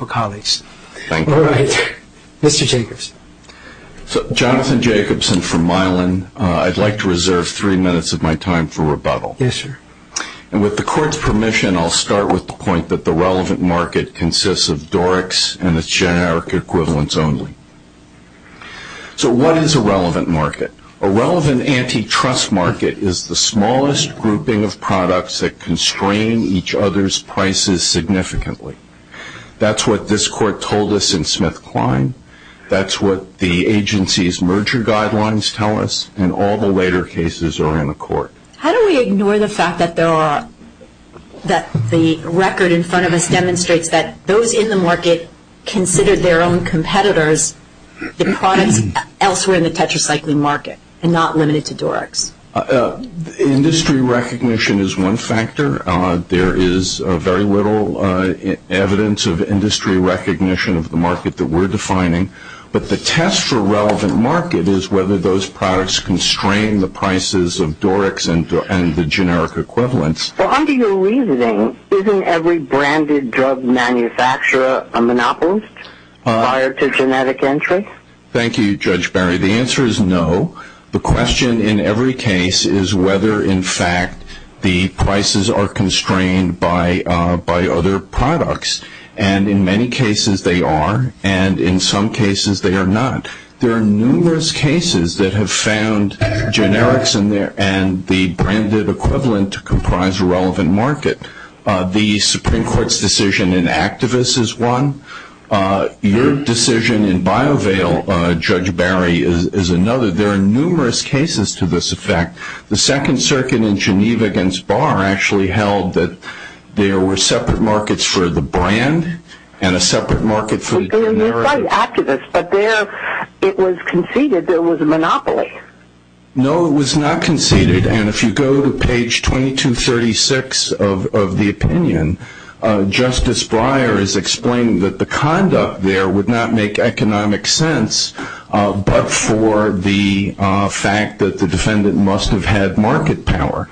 Jonathan Jacobson from Mylan. I'd like to reserve three minutes of my time for rebuttal. With the Court's permission, I'll start with the point that the relevant market consists of Doric's and its generic equivalents only. So what is a relevant market? A relevant antitrust market is the smallest grouping of products that constrain each other's prices significantly. That's what this Court told us in SmithKline. That's what the agency's merger guidelines tell us. And all the later cases are in the Court. How do we ignore the fact that the record in front of us demonstrates that those in the market considered their own competitors the products elsewhere in the tetracycline market and not limited to Doric's? Industry recognition is one factor. There is very little evidence of industry recognition of the market that we're defining. But the test for relevant market is whether those products constrain the prices of Doric's and the generic equivalents. Well, under your reasoning, isn't every branded drug manufacturer a monopolist prior to genetic entry? Thank you, Judge Barry. The answer is no. The question in every case is whether, in fact, the prices are constrained by other products. And in many cases they are, and in some cases they are not. There are numerous cases that have found generics and the branded equivalent to comprise a relevant market. The Supreme Court's decision in Activists is one. Your decision in BioVale, Judge Barry, is another. There are numerous cases to this effect. The Second Circuit in Geneva against Barr actually held that there were separate markets for the brand and a separate market for the generics. You cite Activists, but there it was conceded there was a monopoly. No, it was not conceded. And if you go to page 2236 of the opinion, Justice Breyer is explaining that the conduct there would not make economic sense but for the fact that the defendant must have had market power.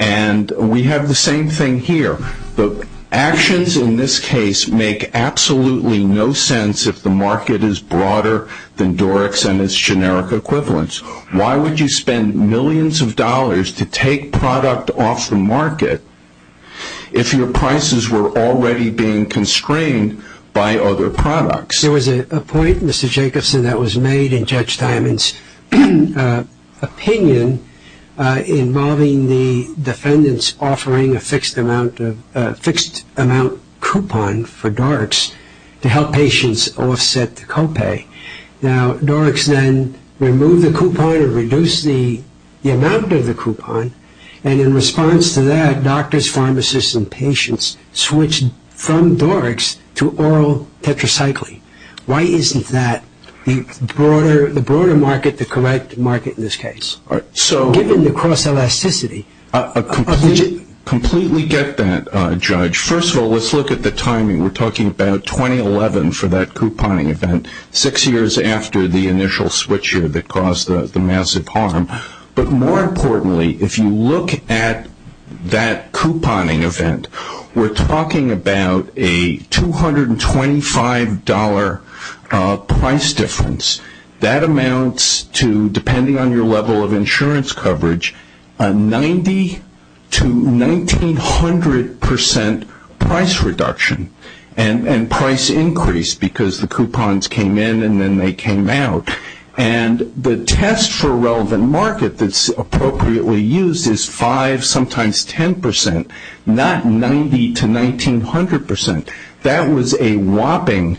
And we have the same thing here. The actions in this case make absolutely no sense if the market is broader than Doric's and its generic equivalents. Why would you spend millions of dollars to take product off the market if your prices were already being constrained by other products? There was a point, Mr. Jacobson, that was made in Judge Diamond's opinion involving the defendant's offering a fixed amount coupon for Doric's to help patients offset the copay. Now, Doric's then removed the coupon or reduced the amount of the coupon, and in response to that, doctors, pharmacists, and patients switched from Doric's to oral tetracycline. Why isn't that the broader market, the correct market in this case? Given the cross-elasticity... Completely get that, Judge. First of all, let's look at the timing. We're talking about 2011 for that couponing event, six years after the initial switcher that caused the massive harm. But more importantly, if you look at that couponing event, we're talking about a $225 price difference. That amounts to, depending on your level of insurance coverage, a 90% to 1,900% price reduction and price increase because the coupons came in and then they came out. And the test for a relevant market that's appropriately used is 5%, sometimes 10%, not 90% to 1,900%. That was a whopping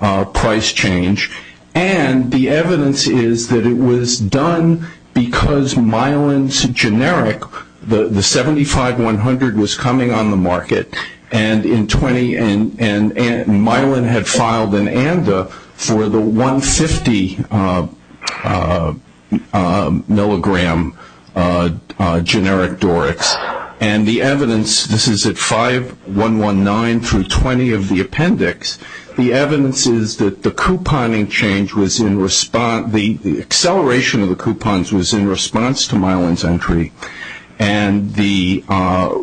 price change, and the evidence is that it was done because Myelin's generic, the 75-100 was coming on the market, and Myelin had filed an ANDA for the 150 milligram generic Doric's. And the evidence, this is at 5-119-20 of the appendix, the evidence is that the couponing change was in response, the acceleration of the coupons was in response to Myelin's entry, and the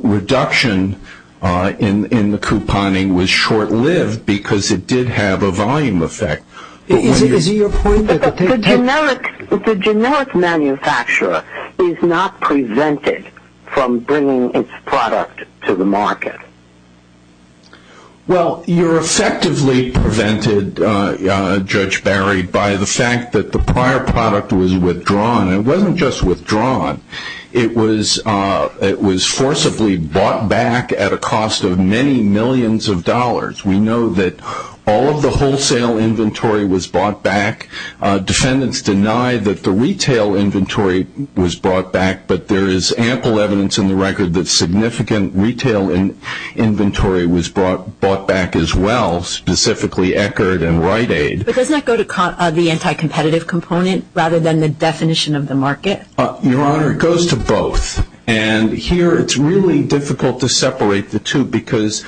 reduction in the couponing was short-lived because it did have a volume effect. Is it your point that the... The generic manufacturer is not prevented from bringing its product to the market? Well, you're effectively prevented, Judge Barry, by the fact that the prior product was withdrawn. It wasn't just withdrawn. It was forcibly bought back at a cost of many millions of dollars. We know that all of the wholesale inventory was bought back, defendants deny that the retail inventory was brought back, but there is ample evidence in the record that significant retail inventory was bought back as well, specifically Eckerd and Rite Aid. But doesn't that go to the anti-competitive component rather than the definition of the market? Your Honor, it goes to both, and here it's really difficult to separate the two because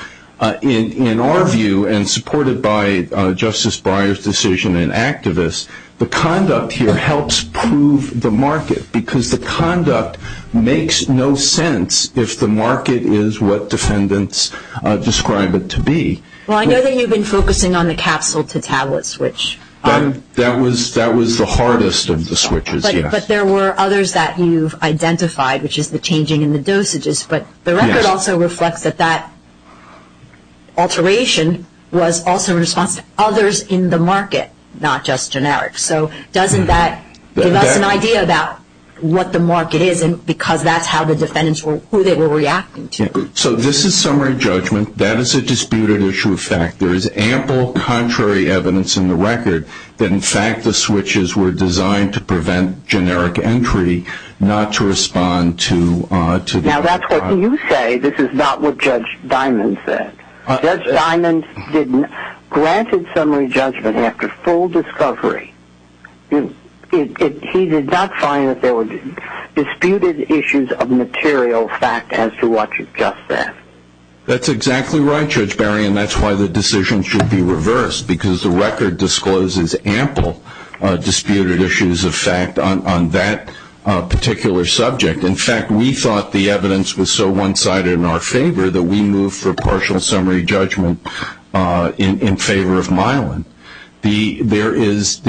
in our view, and supported by Justice Breyer's decision and activists, the conduct here helps prove the market because the conduct makes no sense if the market is what defendants describe it to be. Well, I know that you've been focusing on the capsule-to-tablet switch. That was the hardest of the switches, yes. But there were others that you've identified, which is the changing in the dosages, but the record also reflects that that alteration was also a response to others in the market, not just generic. So doesn't that give us an idea about what the market is because that's how the defendants were, who they were reacting to? So this is summary judgment. That is a disputed issue of fact. There is ample contrary evidence in the record that, in fact, the switches were designed to prevent generic entry, not to respond to the market. Now that's what you say. This is not what Judge Diamond said. Judge Diamond granted summary judgment after full discovery. He did not find that there were disputed issues of material fact as to what you've just said. That's exactly right, Judge Barry, and that's why the decision should be reversed because the record discloses ample disputed issues of fact on that particular subject. In fact, we thought the evidence was so one-sided in our favor that we moved for partial summary judgment in favor of Myelin. There is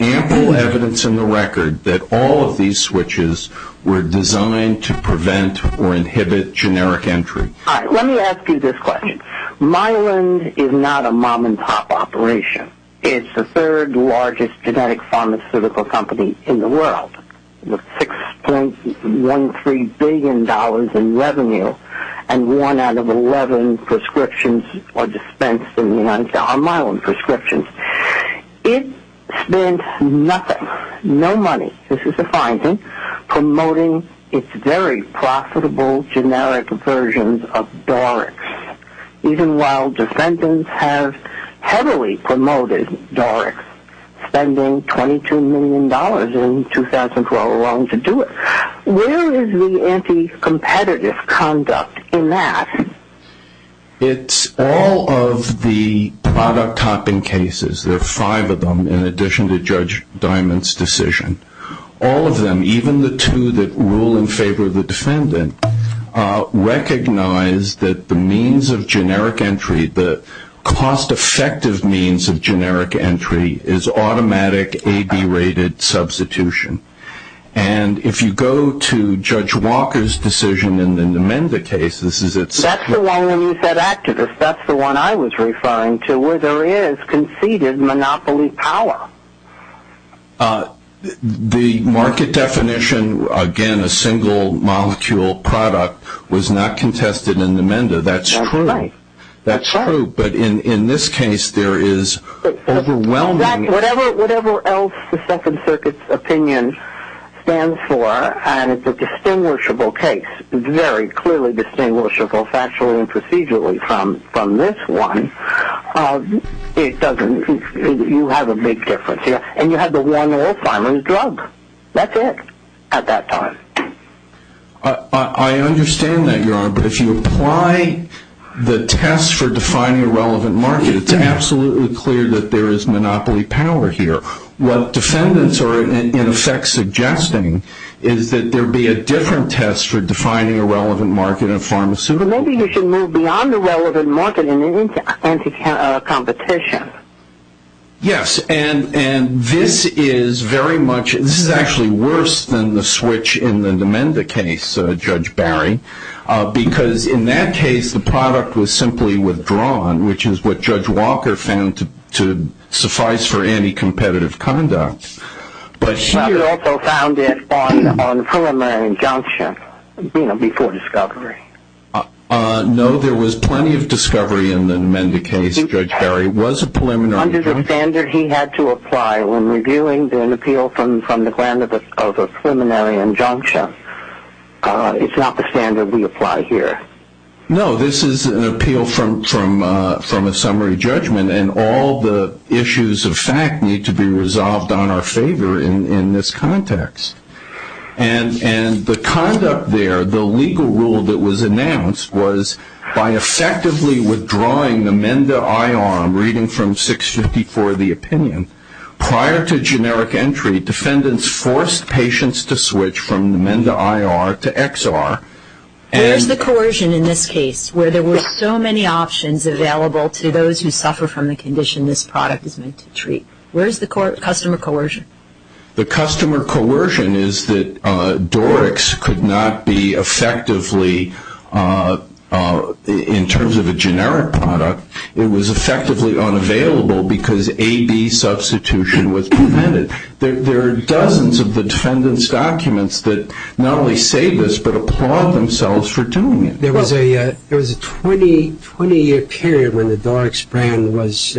ample evidence in the record that all of these switches were designed to prevent or inhibit generic entry. All right, let me ask you this question. Myelin is not a mom-and-pop operation. It's the third largest genetic pharmaceutical company in the world with $6.13 billion in revenue and one out of 11 prescriptions are dispensed in the United States, are Myelin prescriptions. It spends nothing, no money, this is the finding, promoting its very profitable generic versions of Dorix, even while defendants have heavily promoted Dorix, spending $22 million in 2012 alone to do it. Where is the anti-competitive conduct in that? It's all of the product topping cases, there are five of them in addition to Judge Diamond's decision. All of them, even the two that rule in favor of the defendant, recognize that the means of generic entry, the cost-effective means of generic entry, is automatic A-B rated substitution. And if you go to Judge Walker's decision in the Menda case, this is it. That's the one when you said activist, that's the one I was referring to where there is conceded monopoly power. The market definition, again, a single molecule product was not contested in the Menda, that's true. That's right. That's true, but in this case there is overwhelming. Whatever else the Second Circuit's opinion stands for, and it's a distinguishable case, very clearly distinguishable factually and procedurally from this one, it doesn't, you have a big difference here. And you have the one oil farmer's drug. That's it at that time. I understand that, Your Honor, but if you apply the test for defining a relevant market, it's absolutely clear that there is monopoly power here. What defendants are in effect suggesting is that there be a different test for defining a relevant market of pharmaceuticals. So maybe you should move beyond the relevant market into competition. Yes, and this is very much, this is actually worse than the switch in the Menda case, Judge Barry, because in that case the product was simply withdrawn, which is what Judge Walker found to suffice for anti-competitive conduct. He also found it on preliminary injunction, you know, before discovery. No, there was plenty of discovery in the Menda case, Judge Barry. It was a preliminary injunction. Under the standard he had to apply when reviewing an appeal from the ground of a preliminary injunction. It's not the standard we apply here. No, this is an appeal from a summary judgment, and all the issues of fact need to be resolved on our favor in this context. And the conduct there, the legal rule that was announced, was by effectively withdrawing the Menda IR, I'm reading from 654, the opinion, prior to generic entry defendants forced patients to switch from the Menda IR to XR. Where's the coercion in this case, where there were so many options available to those who suffer from the condition this product is meant to treat? Where's the customer coercion? The customer coercion is that Dorix could not be effectively, in terms of a generic product, it was effectively unavailable because AB substitution was prevented. There are dozens of the defendant's documents that not only say this but applaud themselves for doing it. There was a 20-year period when the Dorix brand was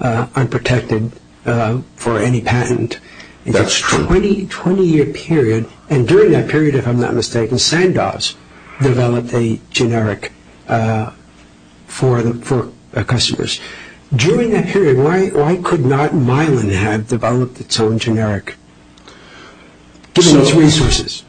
unprotected for any patent. That's true. In that 20-year period, and during that period, if I'm not mistaken, Sandoz developed a generic for customers. During that period, why could not Milan have developed its own generic, given its resources?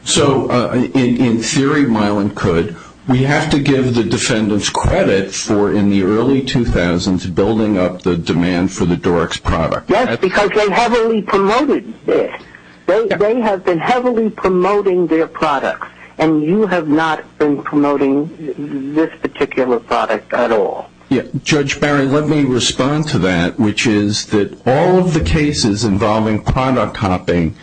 In theory, Milan could. We have to give the defendants credit for, in the early 2000s, building up the demand for the Dorix product. Yes, because they heavily promoted this. They have been heavily promoting their product, and you have not been promoting this particular product at all. Judge Barry, let me respond to that, which is that all of the cases involving product copying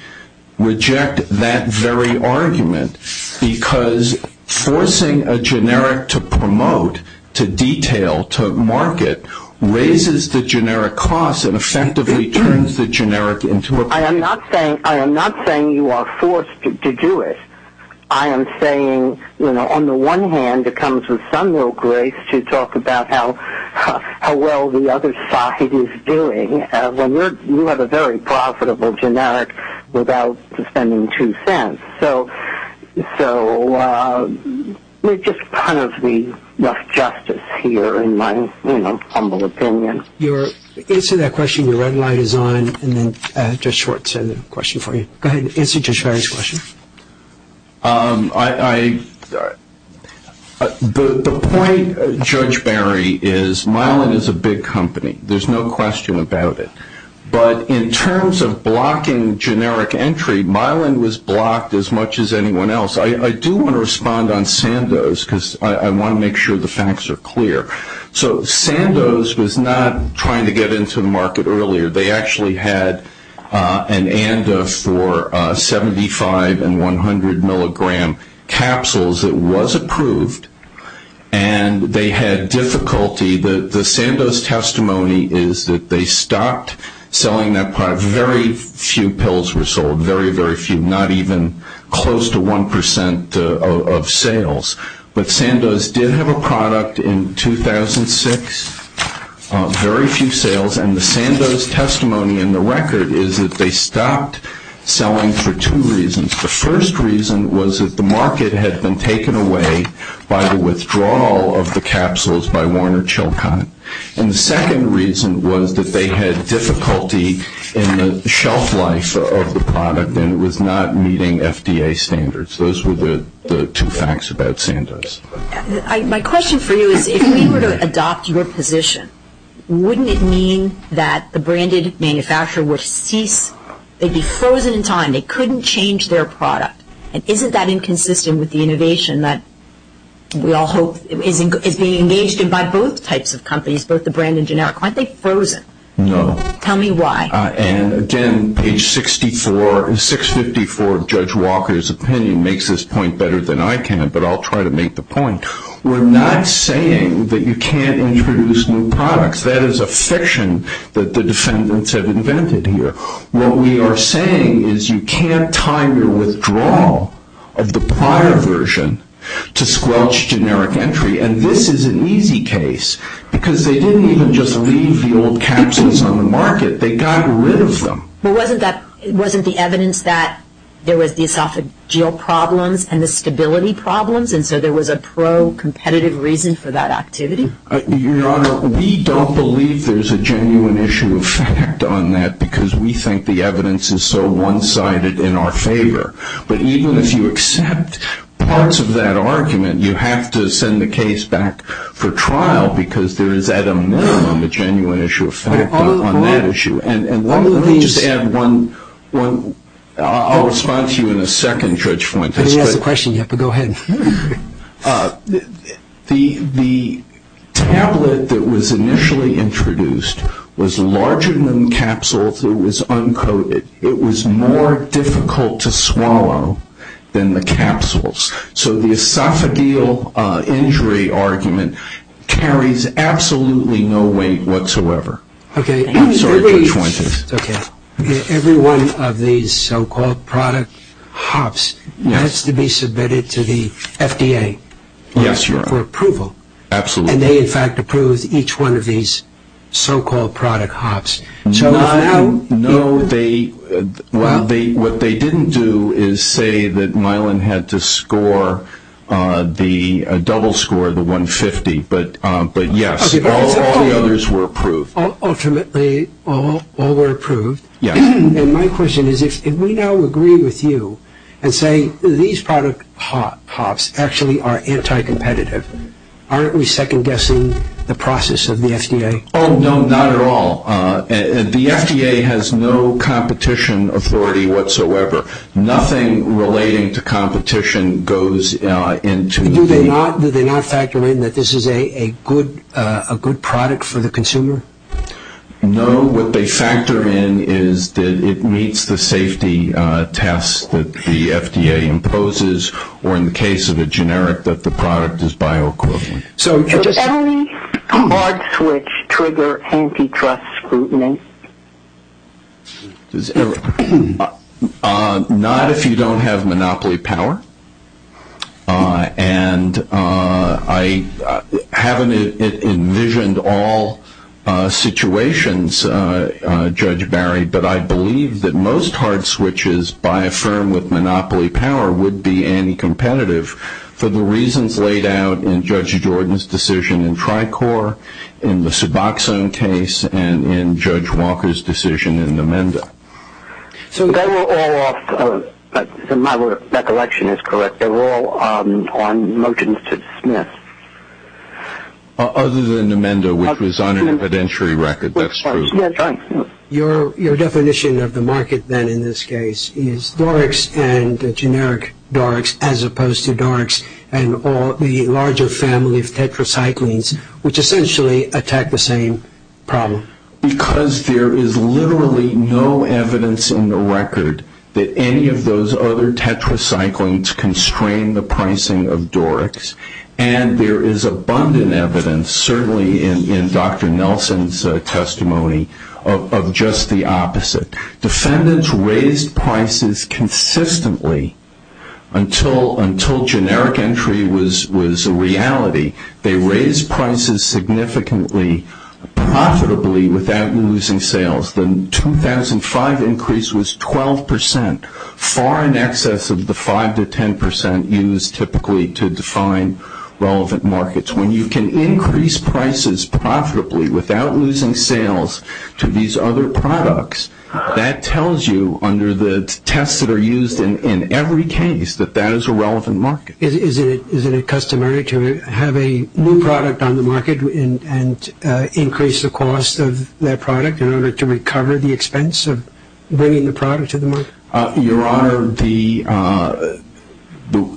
reject that very argument because forcing a generic to promote, to detail, to market, raises the generic cost and effectively turns the generic into a product. I am not saying you are forced to do it. I am saying, you know, on the one hand, it comes with some real grace to talk about how well the other side is doing, when you have a very profitable generic without spending two cents. So there's just kind of enough justice here, in my humble opinion. Answer that question. Your red light is on, and then Judge Schwartz has a question for you. Go ahead and answer Judge Barry's question. The point, Judge Barry, is Mylan is a big company. There's no question about it. But in terms of blocking generic entry, Mylan was blocked as much as anyone else. I do want to respond on Sandoz because I want to make sure the facts are clear. So Sandoz was not trying to get into the market earlier. They actually had an ANDA for 75 and 100 milligram capsules. It was approved, and they had difficulty. The Sandoz testimony is that they stopped selling that product. Very few pills were sold, very, very few, not even close to 1% of sales. But Sandoz did have a product in 2006, very few sales. And the Sandoz testimony in the record is that they stopped selling for two reasons. The first reason was that the market had been taken away by the withdrawal of the capsules by Warner Chilcott. And the second reason was that they had difficulty in the shelf life of the product, and it was not meeting FDA standards. Those were the two facts about Sandoz. My question for you is, if we were to adopt your position, wouldn't it mean that the branded manufacturer would cease, they'd be frozen in time, they couldn't change their product? And isn't that inconsistent with the innovation that we all hope is being engaged in by both types of companies, both the brand and generic? Aren't they frozen? No. Tell me why. And again, page 654 of Judge Walker's opinion makes this point better than I can, but I'll try to make the point. We're not saying that you can't introduce new products. That is a fiction that the defendants have invented here. What we are saying is you can't time your withdrawal of the prior version to squelch generic entry, and this is an easy case because they didn't even just leave the old capsules on the market. They got rid of them. But wasn't the evidence that there was the esophageal problems and the stability problems, and so there was a pro-competitive reason for that activity? Your Honor, we don't believe there's a genuine issue of fact on that because we think the evidence is so one-sided in our favor. But even if you accept parts of that argument, you have to send the case back for trial because there is at a minimum a genuine issue of fact on that issue. And let me just add one. I'll respond to you in a second, Judge Fuentes. If anybody has a question, you have to go ahead. The tablet that was initially introduced was larger than the capsules. It was uncoated. It was more difficult to swallow than the capsules. So the esophageal injury argument carries absolutely no weight whatsoever. Okay. I'm sorry, Judge Fuentes. Okay. Every one of these so-called product hops has to be submitted to the FDA. Yes, Your Honor. For approval. Absolutely. And they, in fact, approve each one of these so-called product hops. Not all? No. What they didn't do is say that Myelin had to score the double score, the 150. But, yes, all the others were approved. Ultimately, all were approved. Yes. And my question is if we now agree with you and say these product hops actually are anti-competitive, aren't we second-guessing the process of the FDA? Oh, no, not at all. The FDA has no competition authority whatsoever. Nothing relating to competition goes into the FDA. Not that they don't factor in that this is a good product for the consumer? No. What they factor in is that it meets the safety test that the FDA imposes or, in the case of a generic, that the product is bioequivalent. So does any hard switch trigger antitrust scrutiny? Not if you don't have monopoly power. And I haven't envisioned all situations, Judge Barry, but I believe that most hard switches by a firm with monopoly power would be anti-competitive for the reasons laid out in Judge Jordan's decision in Tricor, in the Suboxone case, and in Judge Walker's decision in Namenda. So they were all off the road. My recollection is correct. They were all on motions to dismiss. Other than Namenda, which was on an evidentiary record. That's true. Your definition of the market, then, in this case, is Dorics and generic Dorics as opposed to Dorics and the larger family of tetracyclines, which essentially attack the same problem. Because there is literally no evidence in the record that any of those other tetracyclines constrain the pricing of Dorics, and there is abundant evidence, certainly in Dr. Nelson's testimony, of just the opposite. Defendants raised prices consistently until generic entry was a reality. They raised prices significantly profitably without losing sales. The 2005 increase was 12 percent, far in excess of the 5 to 10 percent used typically to define relevant markets. When you can increase prices profitably without losing sales to these other products, that tells you, under the tests that are used in every case, that that is a relevant market. Is it customary to have a new product on the market and increase the cost of that product in order to recover the expense of bringing the product to the market? Your Honor, the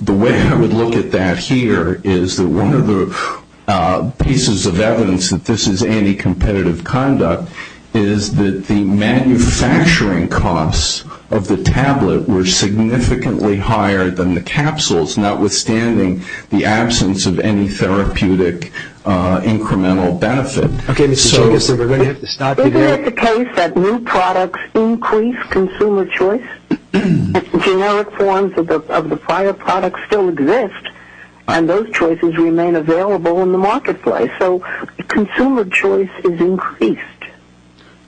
way I would look at that here is that one of the pieces of evidence that this is anticompetitive conduct is that the manufacturing costs of the tablet were significantly higher than the capsules, notwithstanding the absence of any therapeutic incremental benefit. Okay, Ms. Jacobson, we're going to have to stop you there. Isn't it the case that new products increase consumer choice? Generic forms of the prior products still exist, and those choices remain available in the marketplace. So consumer choice is increased.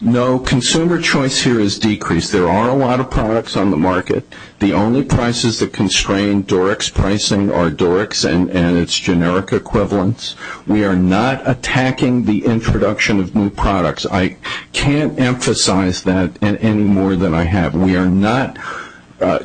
No, consumer choice here is decreased. There are a lot of products on the market. The only prices that constrain Dorix pricing are Dorix and its generic equivalents. We are not attacking the introduction of new products. I can't emphasize that any more than I have. We are not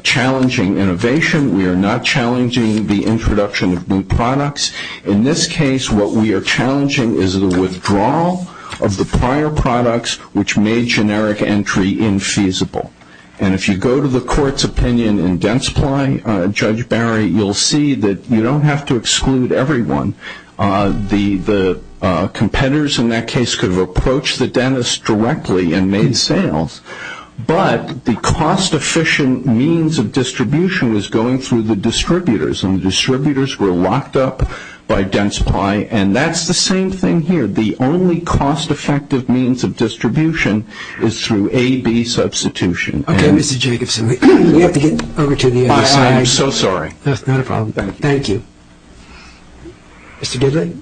challenging innovation. We are not challenging the introduction of new products. In this case, what we are challenging is the withdrawal of the prior products, which made generic entry infeasible. And if you go to the court's opinion in Densply, Judge Barry, you'll see that you don't have to exclude everyone. The competitors in that case could have approached the dentist directly and made sales, but the cost-efficient means of distribution was going through the distributors, and the distributors were locked up by Densply, and that's the same thing here. The only cost-effective means of distribution is through A-B substitution. Okay, Mr. Jacobson, we have to get over to the other side. I'm so sorry. That's not a problem. Thank you. Mr. Gidley?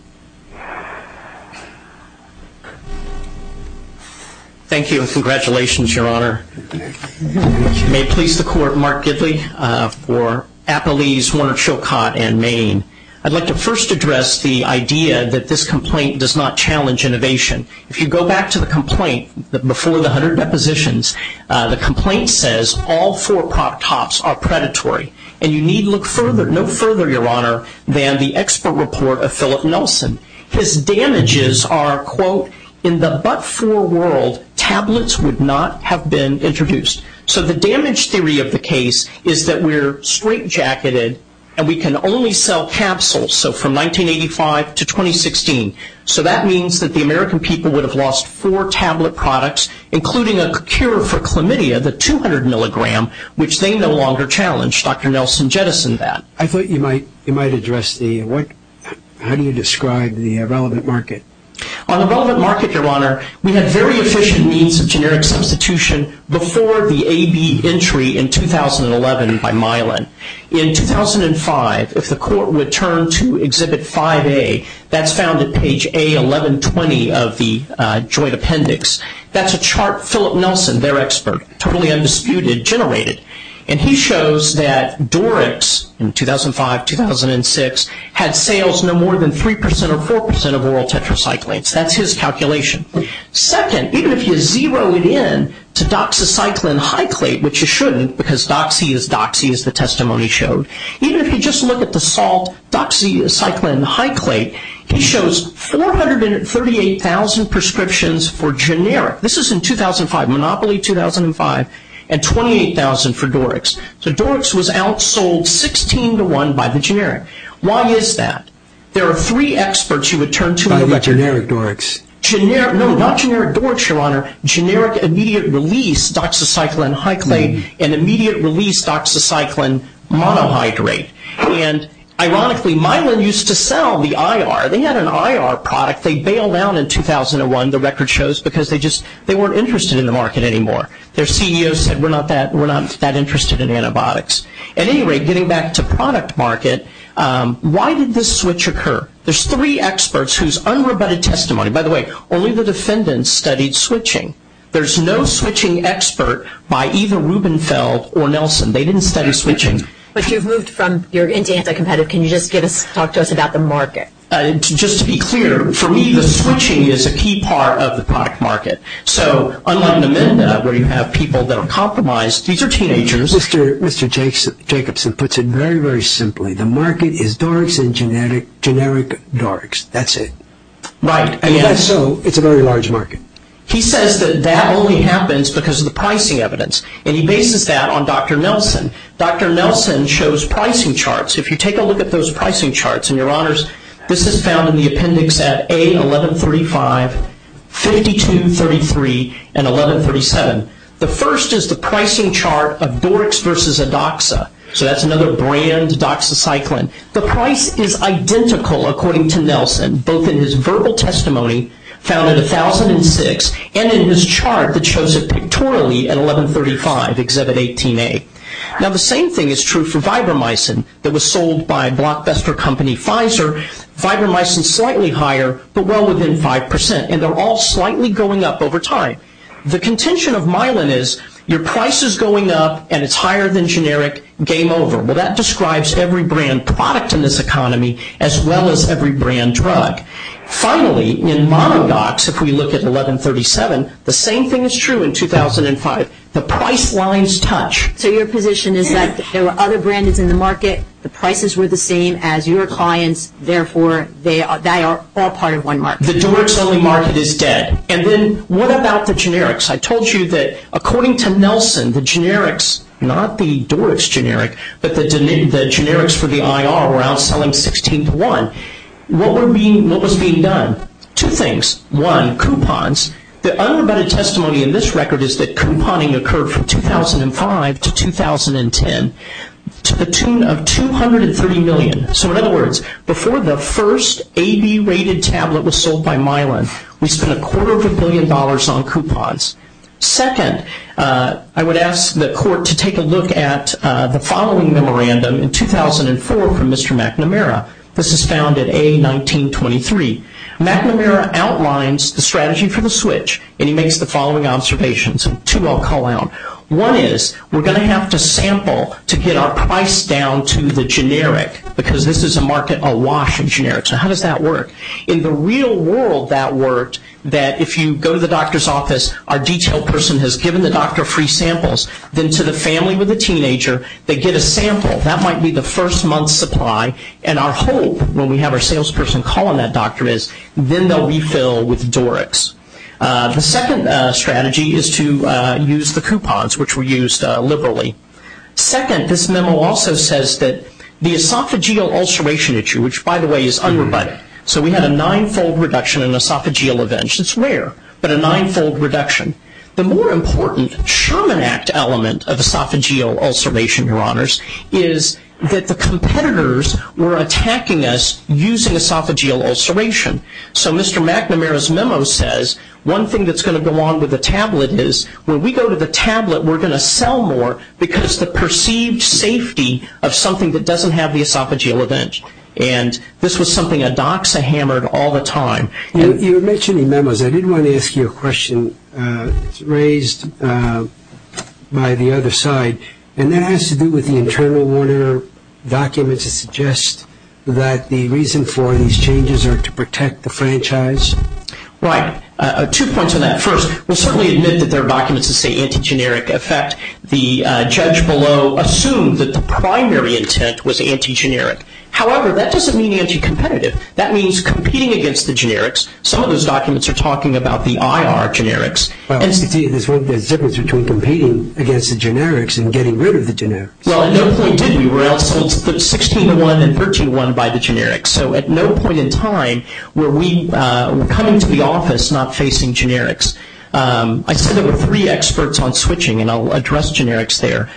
Thank you, and congratulations, Your Honor. May it please the Court, Mark Gidley for Appalese, Warner Chilcot, and Maine. I'd like to first address the idea that this complaint does not challenge innovation. If you go back to the complaint before the 100 depositions, the complaint says all four crop tops are predatory, and you need look no further, Your Honor, than the expert report of Philip Nelson. His damages are, quote, in the but-for world, tablets would not have been introduced. So the damage theory of the case is that we're straightjacketed and we can only sell capsules, so from 1985 to 2016. So that means that the American people would have lost four tablet products, including a cure for chlamydia, the 200 milligram, which they no longer challenge. Dr. Nelson jettisoned that. I thought you might address the, how do you describe the relevant market? On the relevant market, Your Honor, we had very efficient means of generic substitution before the A-B entry in 2011 by Mylan. In 2005, if the court would turn to Exhibit 5A, that's found at page A1120 of the joint appendix, that's a chart Philip Nelson, their expert, totally undisputed, generated. And he shows that Dorix in 2005, 2006, had sales no more than 3% or 4% of oral tetracyclines. That's his calculation. Second, even if you zero it in to doxycycline high-clate, which you shouldn't because doxy is doxy, as the testimony showed, even if you just look at the salt doxycycline high-clate, he shows 438,000 prescriptions for generic. This is in 2005, Monopoly 2005, and 28,000 for Dorix. So Dorix was outsold 16 to 1 by the generic. Why is that? There are three experts you would turn to. No, not generic Dorix, Your Honor. Generic immediate-release doxycycline high-clate and immediate-release doxycycline monohydrate. And ironically, Mylan used to sell the IR. They had an IR product. They bailed out in 2001, the record shows, because they just weren't interested in the market anymore. Their CEO said, We're not that interested in antibiotics. At any rate, getting back to product market, why did this switch occur? There's three experts whose unrebutted testimony, by the way, only the defendants studied switching. There's no switching expert by either Rubenfeld or Nelson. They didn't study switching. But you've moved from your anti-anti-competitive. Can you just talk to us about the market? Just to be clear, for me, the switching is a key part of the product market. So unlike Namenda, where you have people that are compromised, these are teenagers. Mr. Jacobson puts it very, very simply. The market is Dorix and generic Dorix. That's it. Right. If that's so, it's a very large market. He says that that only happens because of the pricing evidence, and he bases that on Dr. Nelson. Dr. Nelson shows pricing charts. If you take a look at those pricing charts, and, Your Honors, this is found in the appendix at A1135, 5233, and 1137. The first is the pricing chart of Dorix versus Adoxa. So that's another brand, Adoxa Cyclin. The price is identical, according to Nelson, both in his verbal testimony, found at 1006, and in his chart that shows it pictorially at 1135, Exhibit 18A. Now, the same thing is true for Vibramicin, that was sold by blockbuster company Pfizer. Vibramicin is slightly higher, but well within 5%, and they're all slightly going up over time. The contention of Mylan is your price is going up, and it's higher than generic, game over. Well, that describes every brand product in this economy, as well as every brand drug. Finally, in Monodox, if we look at 1137, the same thing is true in 2005. The price lines touch. So your position is that there were other brands in the market, the prices were the same as your clients, therefore they are all part of one market. The Dorix-only market is dead. And then what about the generics? I told you that, according to Nelson, the generics, not the Dorix generic, but the generics for the IR were outselling 16 to 1. What was being done? Two things. One, coupons. The unrebutted testimony in this record is that couponing occurred from 2005 to 2010 to the tune of $230 million. So, in other words, before the first AB-rated tablet was sold by Mylan, we spent a quarter of a billion dollars on coupons. Second, I would ask the court to take a look at the following memorandum in 2004 from Mr. McNamara. This is found at A1923. McNamara outlines the strategy for the switch, and he makes the following observations, and two I'll call out. One is, we're going to have to sample to get our price down to the generic, because this is a market awash in generics. Now, how does that work? In the real world that worked, that if you go to the doctor's office, our detail person has given the doctor free samples. Then to the family with the teenager, they get a sample. That might be the first month's supply, and our hope when we have our salesperson calling that doctor is then they'll refill with Dorix. The second strategy is to use the coupons, which were used liberally. Second, this memo also says that the esophageal ulceration issue, which, by the way, is unrebutted, so we had a nine-fold reduction in esophageal events. It's rare, but a nine-fold reduction. The more important Sherman Act element of esophageal ulceration, Your Honors, is that the competitors were attacking us using esophageal ulceration. So Mr. McNamara's memo says, one thing that's going to go on with the tablet is, when we go to the tablet, we're going to sell more, because the perceived safety of something that doesn't have the esophageal event. And this was something Addoxa hammered all the time. You were mentioning memos. I did want to ask you a question. It's raised by the other side, and that has to do with the internal Warner documents that suggest that the reason for these changes are to protect the franchise. Right. Two points on that. First, we'll certainly admit that there are documents that say anti-generic effect. The judge below assumed that the primary intent was anti-generic. However, that doesn't mean anti-competitive. That means competing against the generics. Some of those documents are talking about the IR generics. Well, you see, there's zippers between competing against the generics and getting rid of the generics. Well, at no point did we. We were outsold 16 to 1 and 13 to 1 by the generics. So at no point in time were we coming to the office not facing generics. I said there were three experts on switching, and I'll address generics there.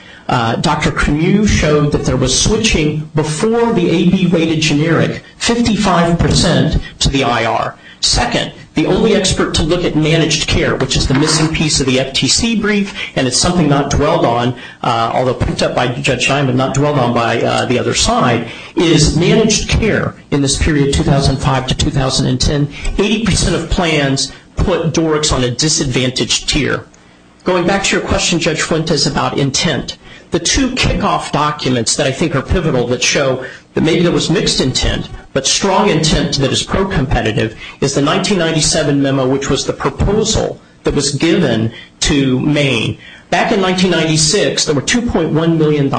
Dr. Canu showed that there was switching before the AB-weighted generic, 55% to the IR. Second, the only expert to look at managed care, which is the missing piece of the FTC brief, and it's something not dwelled on, although picked up by Judge Simon and not dwelled on by the other side, is managed care in this period 2005 to 2010. Eighty percent of plans put DORCs on a disadvantaged tier. Going back to your question, Judge Fuentes, about intent, the two kickoff documents that I think are pivotal that show that maybe there was mixed intent, but strong intent that is pro-competitive is the 1997 memo, which was the proposal that was given to Maine. Back in 1996, there were $2.1 million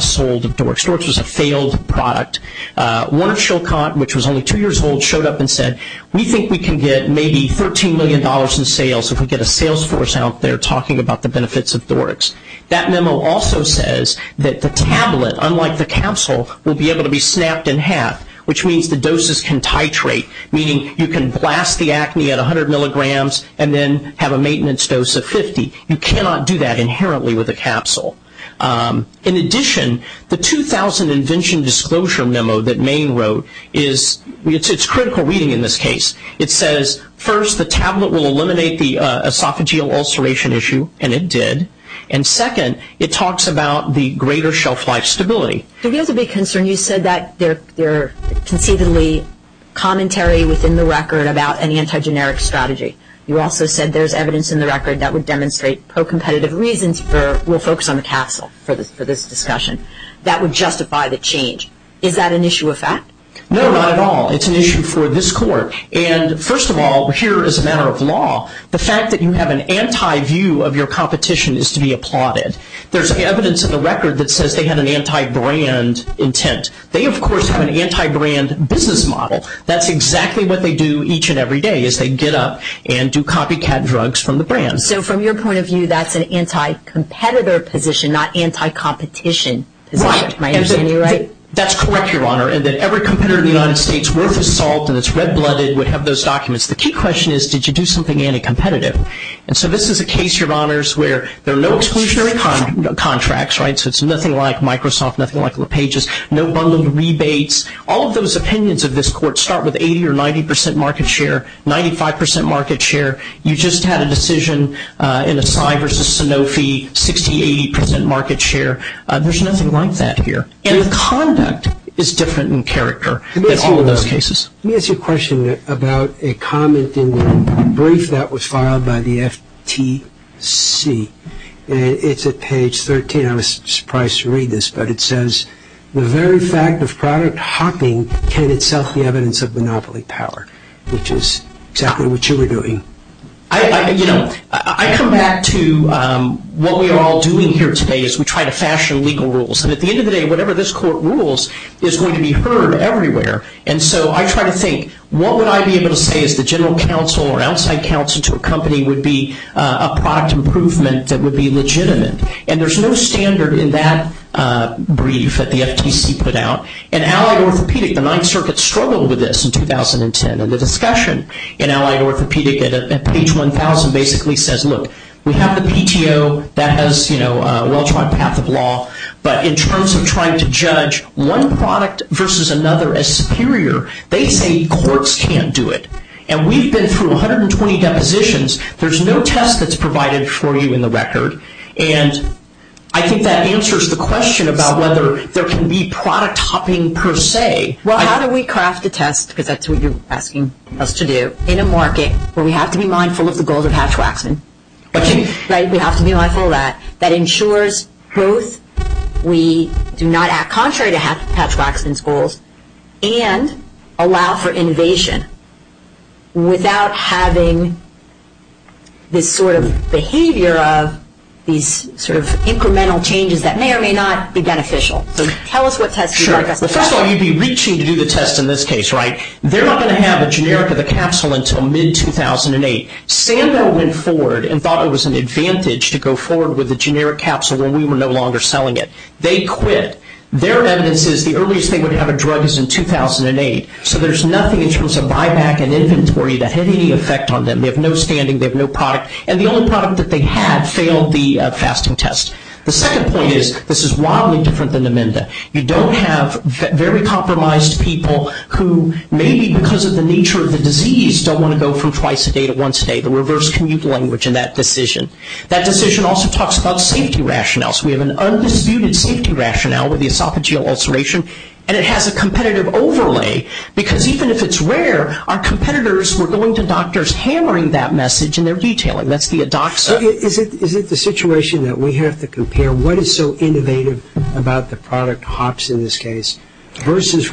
sold of DORCs. DORCs was a failed product. One of Chilcot, which was only two years old, showed up and said, we think we can get maybe $13 million in sales if we get a sales force out there talking about the benefits of DORCs. That memo also says that the tablet, unlike the capsule, will be able to be snapped in half, which means the doses can titrate, meaning you can blast the acne at 100 milligrams and then have a maintenance dose of 50. You cannot do that inherently with a capsule. In addition, the 2000 invention disclosure memo that Maine wrote is, it's critical reading in this case. It says, first, the tablet will eliminate the esophageal ulceration issue, and it did, and second, it talks about the greater shelf life stability. It gives a big concern. You said that there are conceivably commentary within the record about an anti-generic strategy. You also said there's evidence in the record that would demonstrate pro-competitive reasons for, we'll focus on the capsule for this discussion, that would justify the change. Is that an issue of fact? No, not at all. It's an issue for this court. First of all, here, as a matter of law, the fact that you have an anti-view of your competition is to be applauded. There's evidence in the record that says they have an anti-brand intent. They, of course, have an anti-brand business model. That's exactly what they do each and every day, is they get up and do copycat drugs from the brand. So from your point of view, that's an anti-competitor position, not anti-competition position. Right. Am I understanding you right? That's correct, Your Honor, and that every competitor in the United States worth his salt and is red-blooded would have those documents. The key question is, did you do something anti-competitive? And so this is a case, Your Honors, where there are no exclusionary contracts, right, so it's nothing like Microsoft, nothing like LePage's, no bundled rebates. All of those opinions of this court start with 80 or 90 percent market share, 95 percent market share. You just had a decision in Asai versus Sanofi, 60, 80 percent market share. There's nothing like that here. And the conduct is different in character than all of those cases. Let me ask you a question about a comment in the brief that was filed by the FTC. It's at page 13. I was surprised to read this, but it says, the very fact of product hopping can itself be evidence of monopoly power, which is exactly what you were doing. You know, I come back to what we are all doing here today is we try to fashion legal rules. And at the end of the day, whatever this court rules is going to be heard everywhere. And so I try to think, what would I be able to say as the general counsel or outside counsel to a company would be a product improvement that would be legitimate? And there's no standard in that brief that the FTC put out. In Allied Orthopedic, the Ninth Circuit struggled with this in 2010, and the discussion in Allied Orthopedic at page 1,000 basically says, look, we have the PTO that has, you know, a well-tried path of law, but in terms of trying to judge one product versus another as superior, they say courts can't do it. And we've been through 120 depositions. There's no test that's provided for you in the record. And I think that answers the question about whether there can be product hopping per se. Well, how do we craft a test, because that's what you're asking us to do, in a market where we have to be mindful of the goals of Hatch-Waxman, right, we have to be mindful of that, that ensures both we do not act contrary to Hatch-Waxman's goals and allow for innovation without having this sort of behavior of these sort of incremental changes that may or may not be beneficial. So tell us what test you'd like us to do. Sure. Well, first of all, you'd be reaching to do the test in this case, right? They're not going to have a generic of a capsule until mid-2008. Sando went forward and thought it was an advantage to go forward with a generic capsule when we were no longer selling it. They quit. Their evidence is the earliest they would have a drug is in 2008. So there's nothing in terms of buyback and inventory that had any effect on them. They have no standing. They have no product. And the only product that they had failed the fasting test. The second point is this is wildly different than Namenda. You don't have very compromised people who maybe because of the nature of the disease don't want to go from twice a day to once a day, the reverse commute language in that decision. That decision also talks about safety rationales. We have an undisputed safety rationale with the esophageal ulceration, and it has a competitive overlay because even if it's rare, our competitors were going to doctors hammering that message in their detailing. That's the ADOXA. Is it the situation that we have to compare what is so innovative about the product, versus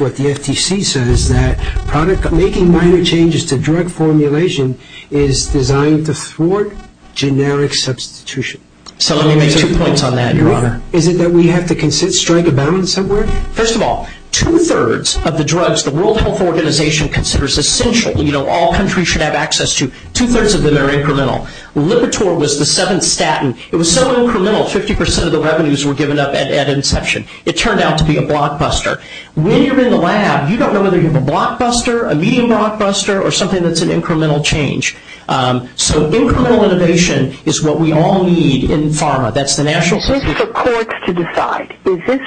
what the FTC says that product making minor changes to drug formulation is designed to thwart generic substitution? So let me make two points on that, Your Honor. Is it that we have to strike a balance somewhere? First of all, two-thirds of the drugs the World Health Organization considers essential, all countries should have access to, two-thirds of them are incremental. Lipitor was the seventh statin. It was so incremental 50% of the revenues were given up at inception. It turned out to be a blockbuster. When you're in the lab, you don't know whether you have a blockbuster, a medium blockbuster, or something that's an incremental change. So incremental innovation is what we all need in pharma. That's the national system. Is this for courts to decide? Is this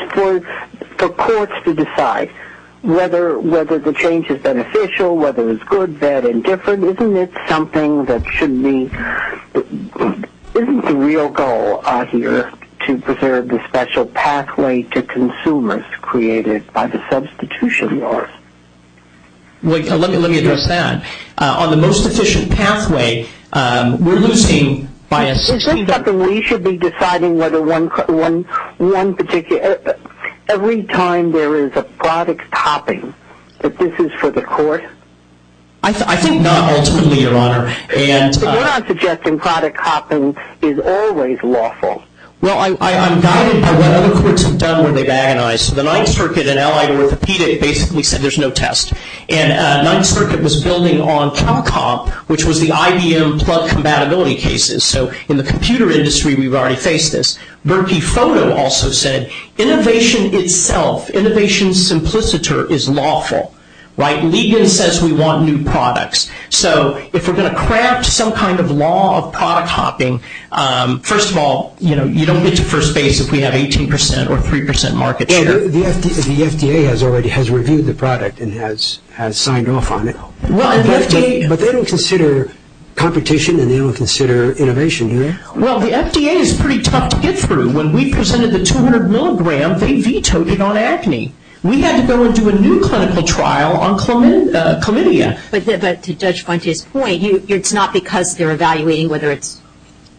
for courts to decide whether the change is beneficial, whether it's good, bad, and different? Isn't it something that should be the real goal, I hear, to preserve the special pathway to consumers created by the substitution laws? Let me address that. On the most efficient pathway, we're losing by a significant amount. Is this something we should be deciding whether one particular, every time there is a product topping, that this is for the court? I think not ultimately, Your Honor. But you're not suggesting product topping is always lawful. Well, I'm guided by what other courts have done where they've agonized. The Ninth Circuit, an allied orthopedic, basically said there's no test. And Ninth Circuit was building on CalCom, which was the IBM plug compatibility cases. So in the computer industry, we've already faced this. Berkey Photo also said innovation itself, innovation simpliciter, is lawful. Legan says we want new products. So if we're going to craft some kind of law of product topping, first of all, you don't get to first base if we have 18% or 3% market share. The FDA has already reviewed the product and has signed off on it. But they don't consider competition and they don't consider innovation, do they? Well, the FDA is pretty tough to get through. When we presented the 200 milligram, they vetoed it on acne. We had to go and do a new clinical trial on chlamydia. But to Judge Fuentes' point, it's not because they're evaluating whether it's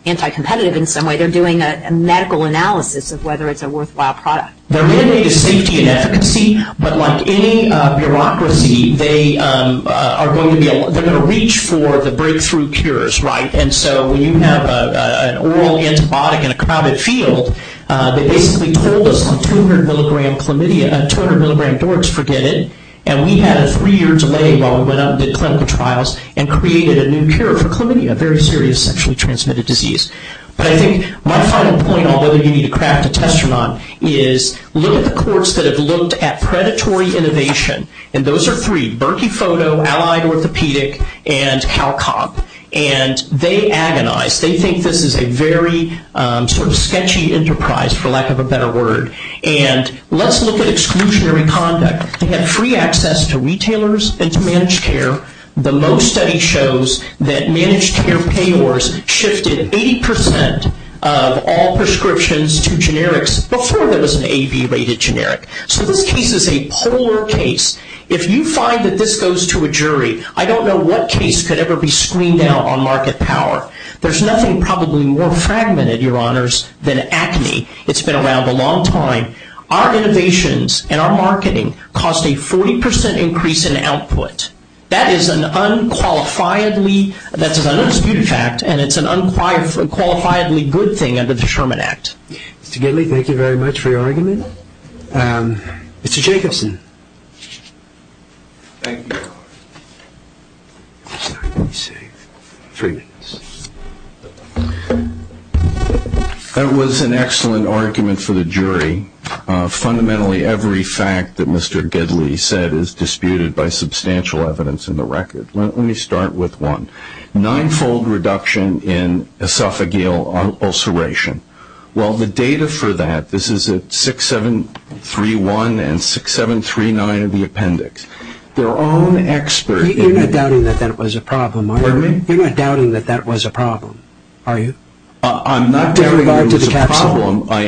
anti-competitive in some way. They're doing a medical analysis of whether it's a worthwhile product. Their mandate is safety and efficacy. But like any bureaucracy, they're going to reach for the breakthrough cures, right? And so when you have an oral antibiotic in a crowded field, they basically told us on 200 milligram dorks, forget it. And we had a three-year delay while we went out and did clinical trials and created a new cure for chlamydia, a very serious sexually transmitted disease. But I think my final point on whether you need to craft a test or not is look at the courts that have looked at predatory innovation. And those are three, Berkey Photo, Allied Orthopedic, and CalCom. And they agonize. They think this is a very sort of sketchy enterprise, for lack of a better word. And let's look at exclusionary conduct. They had free access to retailers and to managed care. The most study shows that managed care payors shifted 80 percent of all prescriptions to generics before there was an AB-rated generic. So this case is a polar case. If you find that this goes to a jury, I don't know what case could ever be screened out on market power. There's nothing probably more fragmented, Your Honors, than acne. It's been around a long time. Our innovations and our marketing caused a 40 percent increase in output. That is an unqualifiedly good thing under the Sherman Act. Mr. Gidley, thank you very much for your argument. Mr. Jacobson. Thank you. That was an excellent argument for the jury. Fundamentally, every fact that Mr. Gidley said is disputed by substantial evidence in the record. Let me start with one. Nine-fold reduction in esophageal ulceration. Well, the data for that, this is at 6731 and 6739 of the appendix. Their own expert in- You're not doubting that that was a problem, are you? Pardon me? You're not doubting that that was a problem, are you? I'm not doubting that it was a problem. I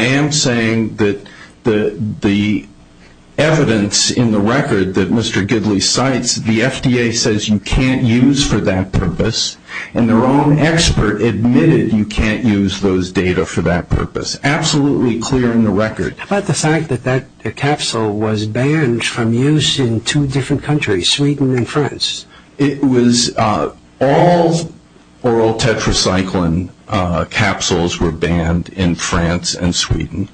am saying that the evidence in the record that Mr. Gidley cites, the FDA says you can't use for that purpose, and their own expert admitted you can't use those data for that purpose. Absolutely clear in the record. How about the fact that that capsule was banned from use in two different countries, Sweden and France? It was all oral tetracycline capsules were banned in France and Sweden.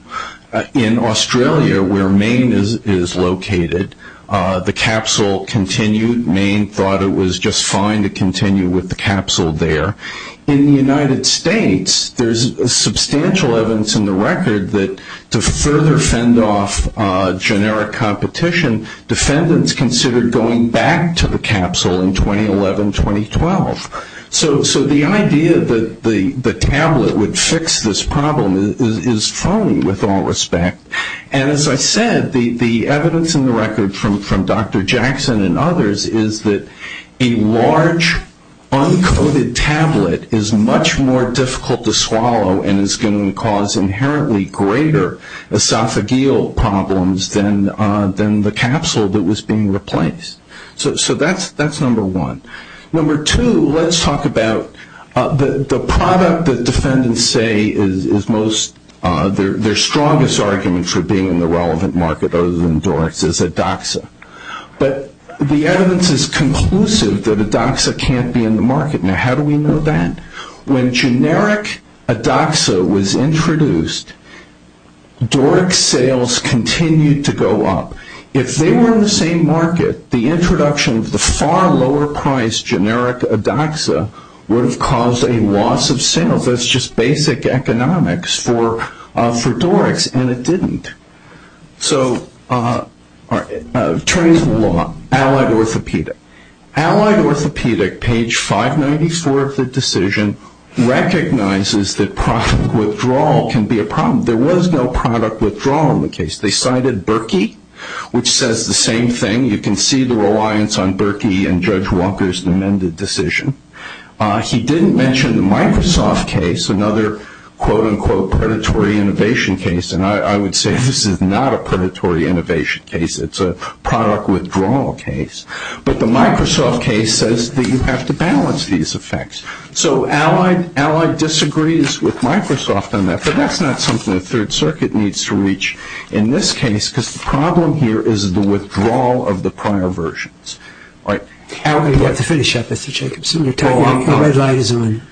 In Australia, where Maine is located, the capsule continued. Maine thought it was just fine to continue with the capsule there. In the United States, there's substantial evidence in the record that to further fend off generic competition, defendants considered going back to the capsule in 2011-2012. So the idea that the tablet would fix this problem is funny, with all respect. And as I said, the evidence in the record from Dr. Jackson and others is that a large, uncoated tablet is much more difficult to swallow and is going to cause inherently greater esophageal problems than the capsule that was being replaced. So that's number one. Number two, let's talk about the product that defendants say is most, their strongest argument for being in the relevant market other than Dorix is Edoxa. But the evidence is conclusive that Edoxa can't be in the market. Now, how do we know that? When generic Edoxa was introduced, Dorix sales continued to go up. If they were in the same market, the introduction of the far lower-priced generic Edoxa would have caused a loss of sales. That's just basic economics for Dorix, and it didn't. So attorneys of the law, Allied Orthopedic. Allied Orthopedic, page 594 of the decision, recognizes that product withdrawal can be a problem. There was no product withdrawal in the case. They cited Berkey, which says the same thing. You can see the reliance on Berkey and Judge Walker's amended decision. He didn't mention the Microsoft case, another quote-unquote predatory innovation case, and I would say this is not a predatory innovation case. It's a product withdrawal case. But the Microsoft case says that you have to balance these effects. So Allied disagrees with Microsoft on that, but that's not something the Third Circuit needs to reach in this case because the problem here is the withdrawal of the prior versions. We have to finish up, Mr. Jacobson. The red light is on.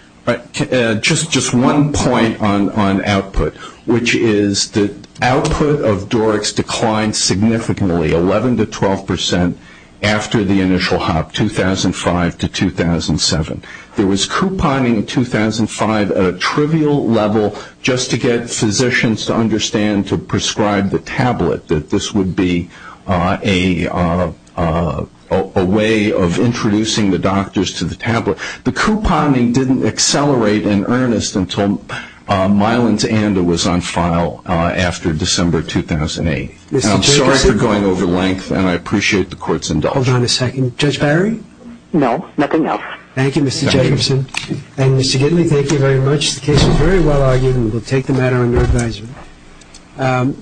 Just one point on output, which is the output of Dorix declined significantly, 11 to 12 percent, after the initial hop, 2005 to 2007. There was couponing in 2005 at a trivial level just to get physicians to understand, to prescribe the tablet, that this would be a way of introducing the doctors to the tablet. The couponing didn't accelerate in earnest until Mylans-Anda was on file after December 2008. I'm sorry for going over length, and I appreciate the Court's indulgence. Hold on a second. Judge Barry? No, nothing else. Thank you, Mr. Jacobson. And, Mr. Gitley, thank you very much. The case was very well argued, and we'll take the matter under advisement.